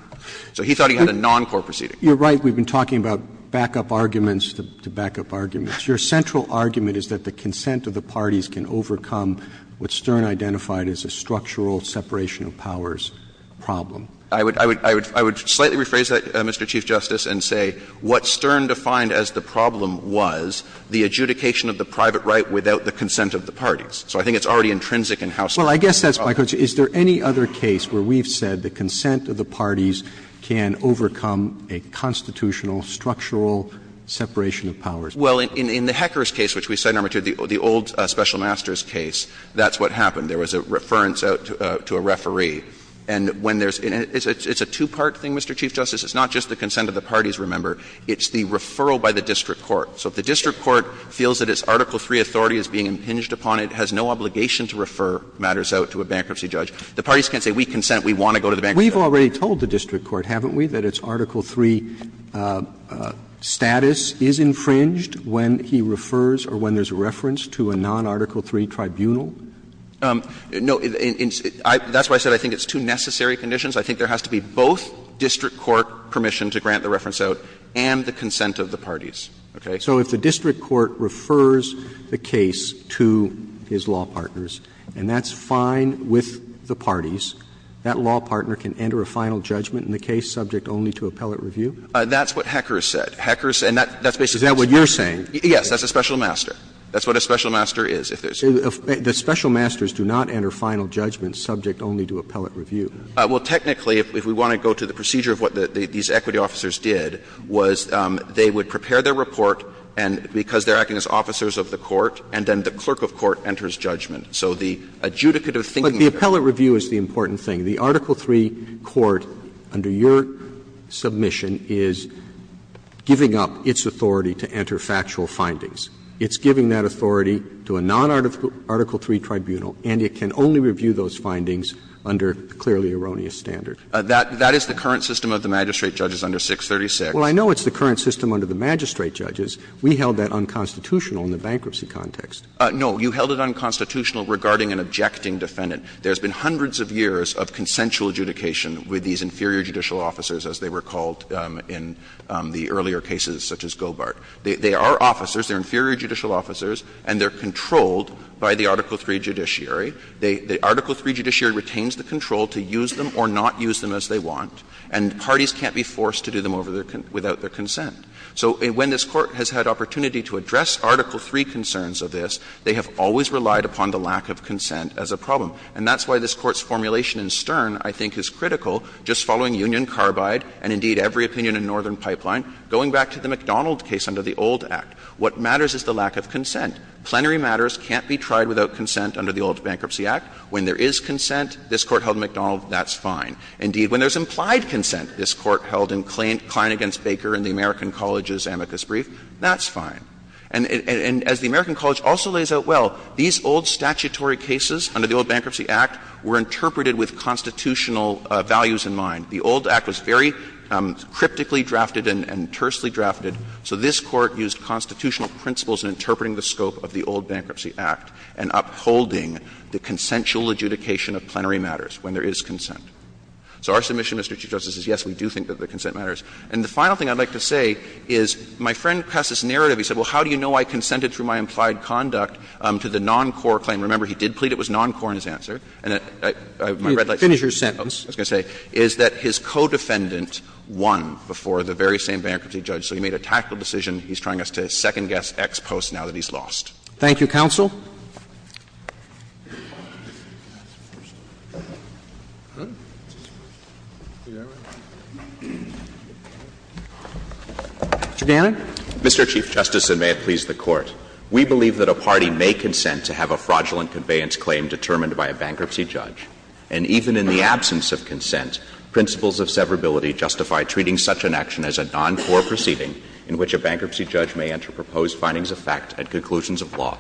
So he thought he had a non-core proceeding. Robertson, you're right, we've been talking about backup arguments to backup arguments. Your central argument is that the consent of the parties can overcome what Stern identified as a structural separation of powers problem. I would – I would slightly rephrase that, Mr. Chief Justice, and say what Stern defined as the problem was the adjudication of the private right without the consent of the parties. So I think it's already intrinsic in how Stern thought about it. Well, I guess that's my question. Is there any other case where we've said the consent of the parties can overcome a constitutional structural separation of powers problem? Well, in the Hecker's case, which we cited earlier, the old special master's case, that's what happened. There was a reference out to a referee. And when there's – it's a two-part thing, Mr. Chief Justice. It's not just the consent of the parties, remember. It's the referral by the district court. So if the district court feels that its Article III authority is being impinged upon, it has no obligation to refer matters out to a bankruptcy judge. The parties can't say we consent, we want to go to the bankruptcy judge. We've already told the district court, haven't we, that its Article III status is infringed when he refers or when there's a reference to a non-Article III tribunal? No. That's why I said I think it's two necessary conditions. I think there has to be both district court permission to grant the reference out and the consent of the parties. Okay? So if the district court refers the case to his law partners, and that's fine with the parties, that law partner can enter a final judgment in the case subject only to appellate review? That's what Hecker said. That's what Hecker said, and that's basically what's going on. Is that what you're saying? Yes, that's a special master. That's what a special master is. The special masters do not enter final judgment subject only to appellate review. Well, technically, if we want to go to the procedure of what these equity officers did was they would prepare their report, and because they're acting as officers of the court, and then the clerk of court enters judgment. So the adjudicative thinking there. But the appellate review is the important thing. The Article III court, under your submission, is giving up its authority to enter factual findings. It's giving that authority to a non-Article III tribunal, and it can only review those findings under the clearly erroneous standard. That is the current system of the magistrate judges under 636. Well, I know it's the current system under the magistrate judges. We held that unconstitutional in the bankruptcy context. No, you held it unconstitutional regarding an objecting defendant. There's been hundreds of years of consensual adjudication with these inferior judicial officers, as they were called in the earlier cases, such as Gobart. They are officers, they're inferior judicial officers, and they're controlled by the Article III judiciary. The Article III judiciary retains the control to use them or not use them as they want, and parties can't be forced to do them without their consent. So when this Court has had opportunity to address Article III concerns of this, they have always relied upon the lack of consent as a problem. And that's why this Court's formulation in Stern, I think, is critical, just following Union, Carbide, and, indeed, every opinion in Northern Pipeline, going back to the McDonald case under the old Act. What matters is the lack of consent. Plenary matters can't be tried without consent under the old Bankruptcy Act. When there is consent, this Court held in McDonald, that's fine. Indeed, when there's implied consent, this Court held in Klein v. Baker in the American College's amicus brief, that's fine. And as the American College also lays out well, these old statutory cases under the old Bankruptcy Act were interpreted with constitutional values in mind. The old Act was very cryptically drafted and tersely drafted, so this Court used constitutional principles in interpreting the scope of the old Bankruptcy Act and upholding the consensual adjudication of plenary matters when there is consent. So our submission, Mr. Chief Justice, is yes, we do think that the consent matters. And the final thing I'd like to say is my friend passed this narrative. He said, well, how do you know I consented through my implied conduct to the non-core claim? And remember, he did plead it was non-core in his answer. And my red light is that his co-defendant won before the very same bankruptcy judge. So he made a tactical decision. He's trying us to second-guess ex post now that he's lost. Thank you, counsel. Mr. Gannon. Mr. Chief Justice, and may it please the Court. We believe that a party may consent to have a fraudulent conveyance claim determined by a bankruptcy judge. And even in the absence of consent, principles of severability justify treating such an action as a non-core proceeding in which a bankruptcy judge may enter proposed findings of fact at conclusions of law.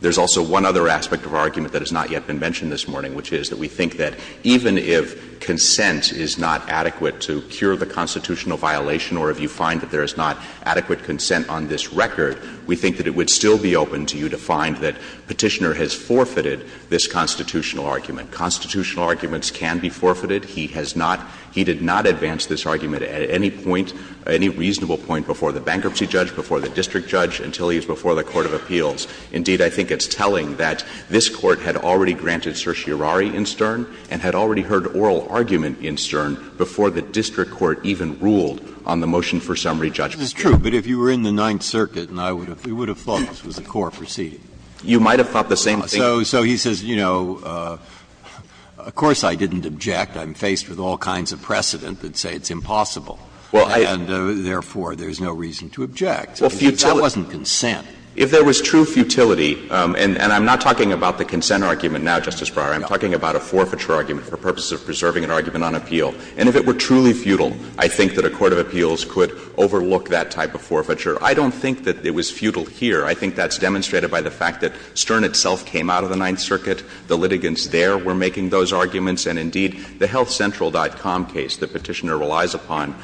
There's also one other aspect of our argument that has not yet been mentioned this morning, which is that we think that even if consent is not adequate to cure the constitutional violation or if you find that there is not adequate consent on this record, we think that it would still be open to you to find that Petitioner has forfeited this constitutional argument. Constitutional arguments can be forfeited. He has not — he did not advance this argument at any point, any reasonable point before the bankruptcy judge, before the district judge, until he is before the court of appeals. Indeed, I think it's telling that this Court had already granted certiorari in Stern and had already heard oral argument in Stern before the district court even ruled on the motion for summary judgment. Breyer, this is true, but if you were in the Ninth Circuit and I would have — you would have thought this was a core proceeding. You might have thought the same thing. So he says, you know, of course I didn't object. I'm faced with all kinds of precedent that say it's impossible. Well, I — And therefore, there's no reason to object. Well, futility — That wasn't consent. If there was true futility, and I'm not talking about the consent argument now, Justice Breyer. No. I'm talking about a forfeiture argument for purposes of preserving an argument on appeal. And if it were truly futile, I think that a court of appeals could overlook that type of forfeiture. I don't think that it was futile here. I think that's demonstrated by the fact that Stern itself came out of the Ninth Circuit. The litigants there were making those arguments. And indeed, the healthcentral.com case the Petitioner relies upon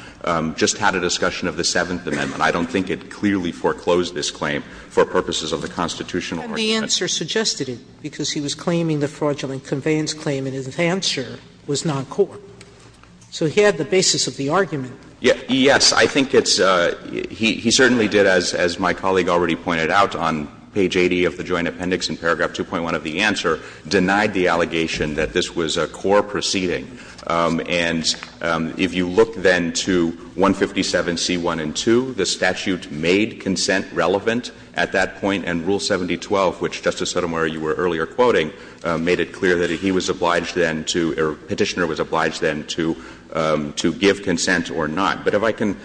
just had a discussion of the Seventh Amendment. I don't think it clearly foreclosed this claim for purposes of the constitutional argument. And the answer suggested it because he was claiming the fraudulent conveyance claim, and his answer was noncore. So he had the basis of the argument. Yes. I think it's — he certainly did, as my colleague already pointed out, on page 80 of the Joint Appendix in paragraph 2.1 of the answer, denied the allegation that this was a core proceeding. And if you look then to 157C1 and 2, the statute made consent relevant at that point. And Rule 7012, which, Justice Sotomayor, you were earlier quoting, made it clear that he was obliged then to — or Petitioner was obliged then to give consent or not. But if I can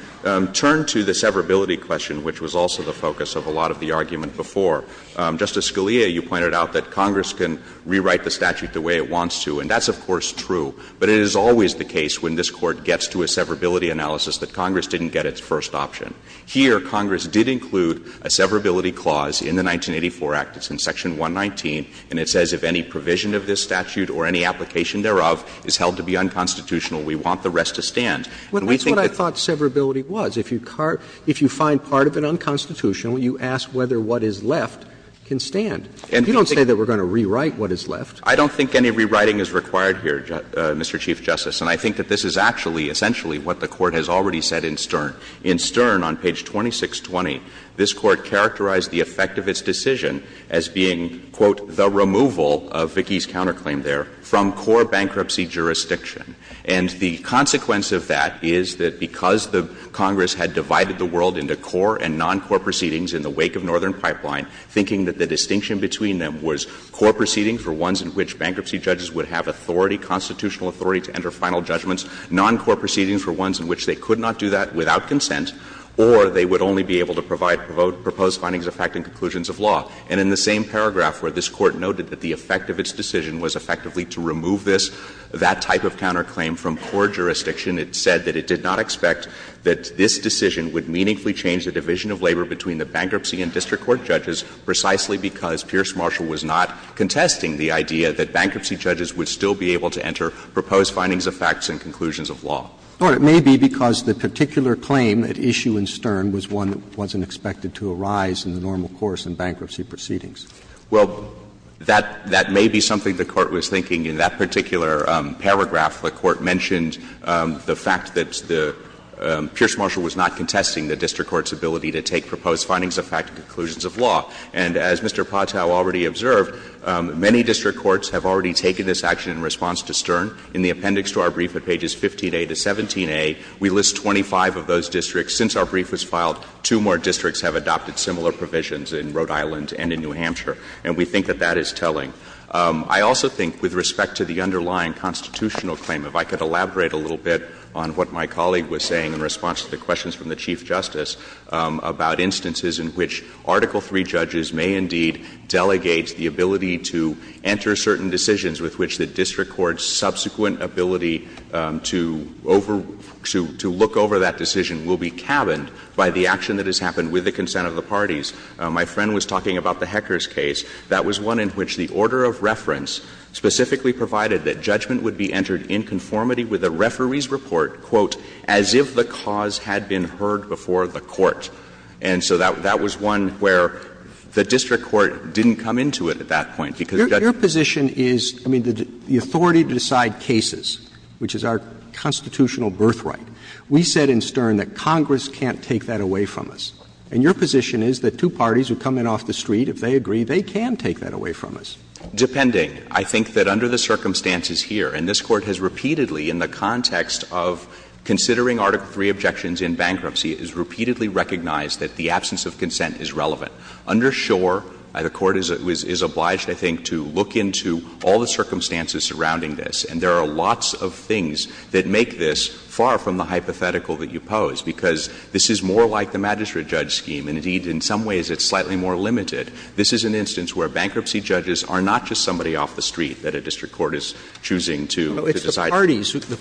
turn to the severability question, which was also the focus of a lot of the argument before. Justice Scalia, you pointed out that Congress can rewrite the statute the way it wants to. And that's, of course, true. But it is always the case when this Court gets to a severability analysis that Congress didn't get its first option. Here, Congress did include a severability clause in the 1984 Act. It's in Section 119. And it says if any provision of this statute or any application thereof is held to be unconstitutional, we want the rest to stand. And we think that's what I thought severability was. If you find part of it unconstitutional, you ask whether what is left can stand. And you don't say that we're going to rewrite what is left. I don't think any rewriting is required here, Mr. Chief Justice. And I think that this is actually, essentially, what the Court has already said in Stern. In Stern, on page 2620, this Court characterized the effect of its decision as being, quote, the removal of Vicki's counterclaim there from core bankruptcy jurisdiction. And the consequence of that is that because the Congress had divided the world into core and non-core proceedings in the wake of Northern Pipeline, thinking that the distinction between them was core proceedings for ones in which bankruptcy judges would have authority, constitutional authority to enter final judgments, non-core proceedings for ones in which they could not do that without consent, or they would only be able to provide proposed findings of fact and conclusions of law. And in the same paragraph where this Court noted that the effect of its decision was effectively to remove this, that type of counterclaim from core jurisdiction, it said that it did not expect that this decision would meaningfully change the division of labor between the bankruptcy and district court judges precisely because Pierce Marshall was not contesting the idea that bankruptcy judges would still be able to enter proposed findings of facts and conclusions of law. Roberts No, it may be because the particular claim at issue in Stern was one that wasn't expected to arise in the normal course in bankruptcy proceedings. Gannon Well, that may be something the Court was thinking. In that particular paragraph, the Court mentioned the fact that the Pierce Marshall was not contesting the district court's ability to take proposed findings of fact and conclusions of law. And as Mr. Patel already observed, many district courts have already taken this action in response to Stern. In the appendix to our brief at pages 15a to 17a, we list 25 of those districts. Since our brief was filed, two more districts have adopted similar provisions in Rhode Island and in New Hampshire. And we think that that is telling. I also think with respect to the underlying constitutional claim, if I could elaborate a little bit on what my colleague was saying in response to the questions from the Chief Justice about instances in which Article III judges may indeed delegate the ability to enter certain decisions with which the district court's subsequent ability to over to look over that decision will be cabined by the action that has happened with the consent of the parties. My friend was talking about the Hecker's case. That was one in which the order of reference specifically provided that judgment would be entered in conformity with the referee's report, quote, as if the cause had been heard before the court. And so that was one where the district court didn't come into it at that point, because the judge wasn't there. Roberts Your position is, I mean, the authority to decide cases, which is our constitutional birthright. We said in Stern that Congress can't take that away from us. And your position is that two parties who come in off the street, if they agree, they can take that away from us. Depending. I think that under the circumstances here, and this Court has repeatedly in the context of considering Article III objections in bankruptcy, it is repeatedly recognized that the absence of consent is relevant. Under Schor, the Court is obliged, I think, to look into all the circumstances surrounding this. And there are lots of things that make this far from the hypothetical that you pose, because this is more like the magistrate-judge scheme. And indeed, in some ways, it's slightly more limited. This is an instance where bankruptcy judges are not just somebody off the street that a district court is choosing to decide. Roberts It's not the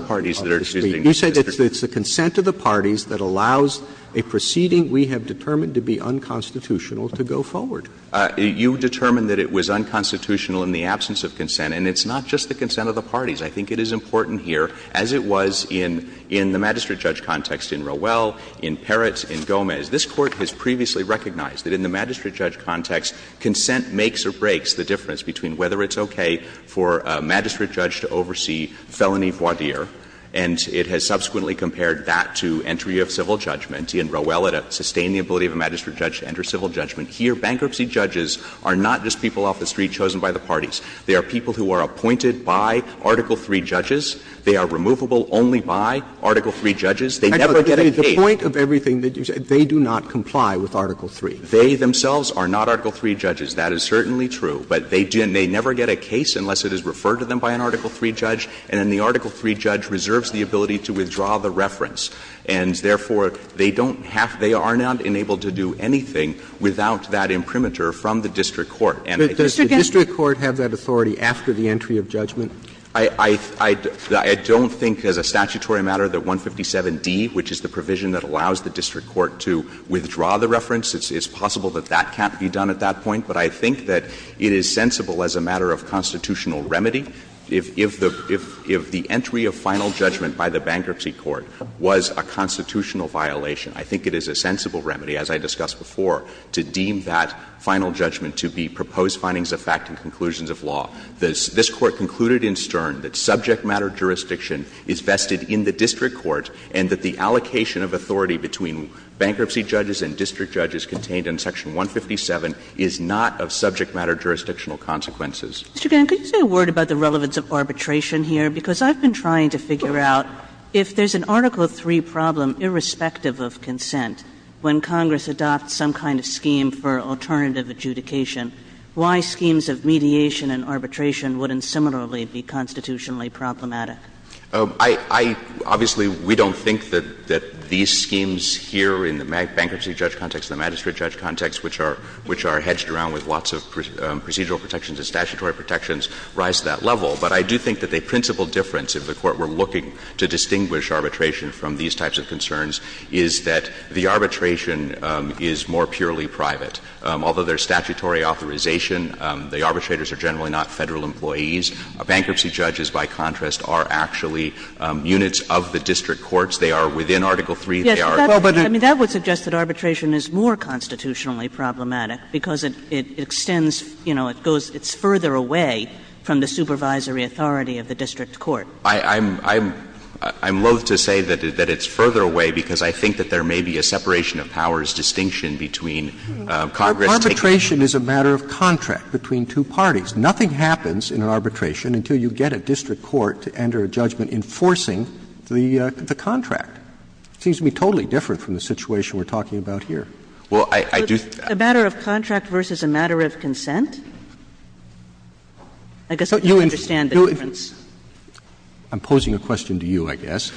parties who are choosing to decide. You say that it's the consent of the parties that allows a proceeding we have determined to be unconstitutional to go forward. You determined that it was unconstitutional in the absence of consent, and it's not just the consent of the parties. I think it is important here, as it was in the magistrate-judge context in Rowell, in Peretz, in Gomez, this Court has previously recognized that in the magistrate-judge context, consent makes or breaks the difference between whether it's okay for a magistrate judge to oversee felony voir dire, and it has subsequently compared that to entry of civil judgment. In Rowell, it sustained the ability of a magistrate judge to enter civil judgment. Here, bankruptcy judges are not just people off the street chosen by the parties. They are people who are appointed by Article III judges. They are removable only by Article III judges. They never get a case. Roberts The point of everything that you said, they do not comply with Article III. They themselves are not Article III judges. That is certainly true. But they never get a case unless it is referred to them by an Article III judge. And then the Article III judge reserves the ability to withdraw the reference. And therefore, they don't have to do anything without that imprimatur from the district court. And I think the district court has that authority after the entry of judgment. I don't think as a statutory matter that 157d, which is the provision that allows the district court to withdraw the reference, it's possible that that can't be done at that point. But I think that it is sensible as a matter of constitutional remedy if the entry of final judgment by the Bankruptcy Court was a constitutional violation. I think it is a sensible remedy, as I discussed before, to deem that final judgment to be proposed findings of fact and conclusions of law. This Court concluded in Stern that subject matter jurisdiction is vested in the district court and that the allocation of authority between bankruptcy judges and district judges contained in Section 157 is not of subject matter jurisdictional consequences. Kagan, could you say a word about the relevance of arbitration here? Because I've been trying to figure out if there's an Article III problem, irrespective of consent, when Congress adopts some kind of scheme for alternative adjudication, why schemes of mediation and arbitration wouldn't similarly be constitutionally problematic? I — I — obviously, we don't think that — that these schemes here in the bankruptcy judge context and the magistrate judge context, which are — which are hedged around with lots of procedural protections and statutory protections, rise to that level. But I do think that the principal difference, if the Court were looking to distinguish arbitration from these types of concerns, is that the arbitration is more purely private. Although there's statutory authorization, the arbitrators are generally not Federal employees. Bankruptcy judges, by contrast, are actually units of the district courts. They are within Article III. They are— Kagan, I mean, that would suggest that arbitration is more constitutionally problematic because it — it extends, you know, it goes — it's further away from the supervisory authority of the district court. I'm — I'm loathe to say that it's further away because I think that there may be a separation of powers distinction between Congress taking— Arbitration is a matter of contract between two parties. Nothing happens in an arbitration until you get a district court to enter a judgment enforcing the contract. It seems to me totally different from the situation we're talking about here. Well, I do— A matter of contract versus a matter of consent? I guess I don't understand the difference. I'm posing a question to you, I guess.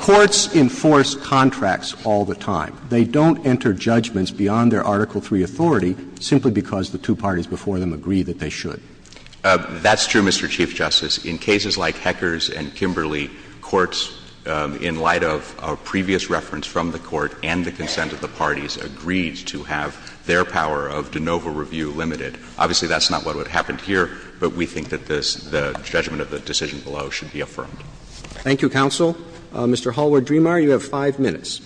Courts enforce contracts all the time. They don't enter judgments beyond their Article III authority simply because the two parties before them agree that they should. That's true, Mr. Chief Justice. In cases like Hecker's and Kimberley, courts, in light of a previous reference from the court and the consent of the parties, agreed to have their power of de novo review limited. Obviously, that's not what would happen here, but we think that the judgment of the decision below should be affirmed. Thank you, counsel. Mr. Hallward-Dremar, you have 5 minutes.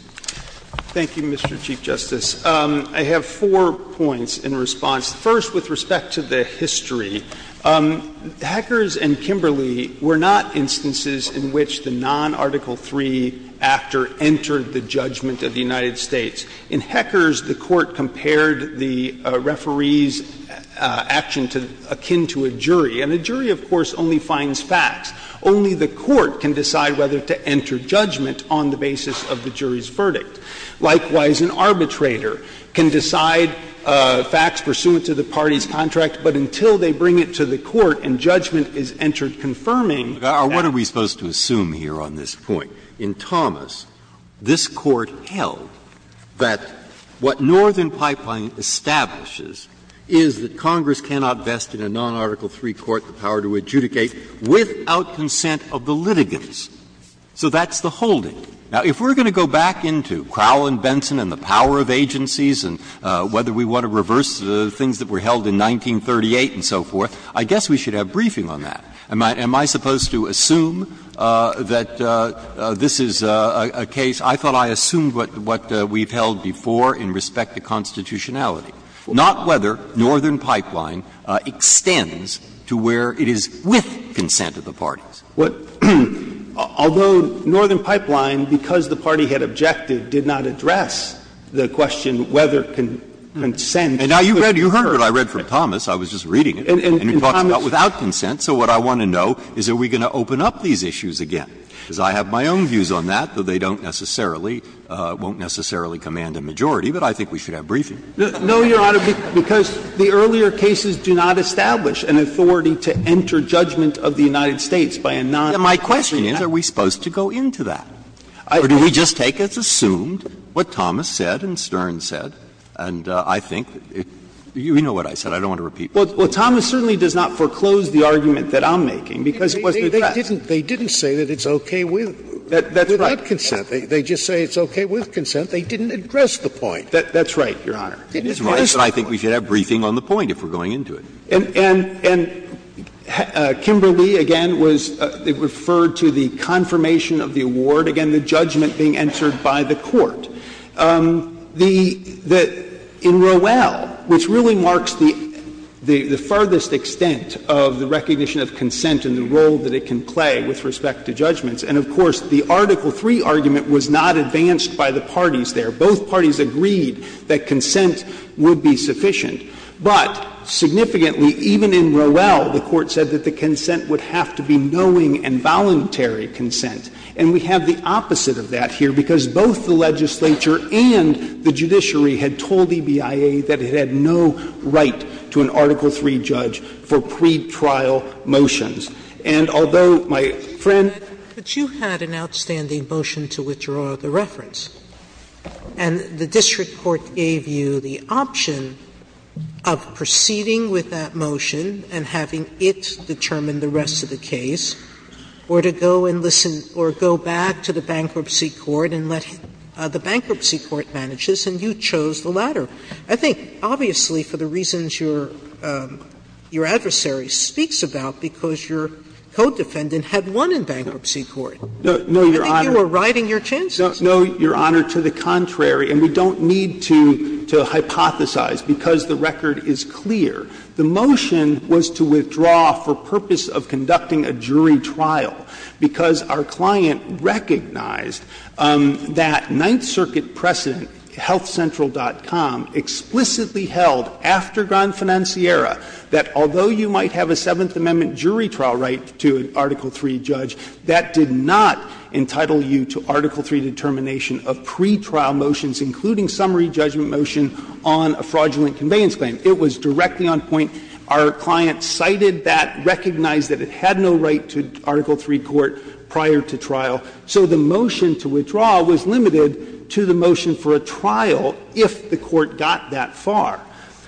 Thank you, Mr. Chief Justice. I have four points in response. First, with respect to the history, Hecker's and Kimberley were not instances in which the non-Article III actor entered the judgment of the United States. In Hecker's, the Court compared the referee's action to akin to a jury, and a jury, of course, only finds facts. Only the court can decide whether to enter judgment on the basis of the jury's verdict. Likewise, an arbitrator can decide facts pursuant to the party's contract, but until they bring it to the court and judgment is entered confirming that the jury has entered the judgment. Breyer, what are we supposed to assume here on this point? In Thomas, this Court held that what Northern Pipeline establishes is that Congress cannot vest in a non-Article III court the power to adjudicate without consent of the litigants. So that's the holding. Now, if we're going to go back into Crowell and Benson and the power of agencies and whether we want to reverse the things that were held in 1938 and so forth, I guess we should have briefing on that. Am I supposed to assume that this is a case – I thought I assumed what we've held before in respect to constitutionality, not whether Northern Pipeline extends to where it is with consent of the parties? Although Northern Pipeline, because the party had objective, did not address the question whether consent could occur. And now you've read – you've heard what I read from Thomas. I was just reading it. And he talked about without consent. So what I want to know is are we going to open up these issues again? Because I have my own views on that, though they don't necessarily – won't necessarily command a majority, but I think we should have briefing. No, Your Honor, because the earlier cases do not establish an authority to enter judgment of the United States by a non-constitution. My question is, are we supposed to go into that? Or do we just take as assumed what Thomas said and Stern said, and I think – you know what I said. I don't want to repeat myself. Well, Thomas certainly does not foreclose the argument that I'm making, because it wasn't addressed. They didn't say that it's okay with without consent. They just say it's okay with consent. They didn't address the point. That's right, Your Honor. Didn't address the point. It's right, but I think we should have briefing on the point if we're going into it. And Kimberly, again, was – referred to the confirmation of the award, again, the judgment being entered by the court. The – in Rowell, which really marks the furthest extent of the recognition of consent and the role that it can play with respect to judgments, and of course, the Article III argument was not advanced by the parties there. Both parties agreed that consent would be sufficient. But significantly, even in Rowell, the Court said that the consent would have to be knowing and voluntary consent. And we have the opposite of that here, because both the legislature and the judiciary had told EBIA that it had no right to an Article III judge for pretrial motions. And although my friend – Sotomayor, you had an outstanding motion to withdraw the reference, and the district court gave you the option of proceeding with that motion and having it determine the rest of the case, or to go and listen – or go back to the bankruptcy court and let the bankruptcy court manage this, and you chose the latter. I think, obviously, for the reasons your adversary speaks about, because your co-defendant had won in bankruptcy court, I think you were riding your chances. No, Your Honor, to the contrary, and we don't need to hypothesize, because the record is clear. The motion was to withdraw for purpose of conducting a jury trial, because our client recognized that Ninth Circuit precedent, HealthCentral.com, explicitly held after Gran Financiera that although you might have a Seventh Amendment jury trial right to an Article III judge, that did not entitle you to Article III determination of pretrial motions, including summary judgment motion on a fraudulent conveyance claim. It was directly on point. Our client cited that, recognized that it had no right to Article III court prior to trial, so the motion to withdraw was limited to the motion for a trial if the court got that far.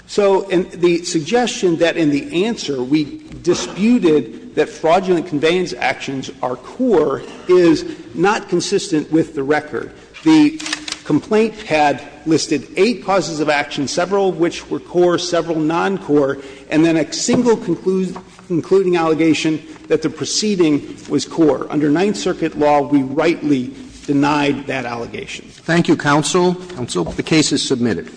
So the suggestion that in the answer we disputed that fraudulent conveyance actions are core is not consistent with the record. The complaint had listed eight causes of action, several of which were core, several non-core, and then a single concluding allegation that the proceeding was core. Under Ninth Circuit law, we rightly denied that allegation. Roberts. Thank you, counsel. Counsel, the case is submitted.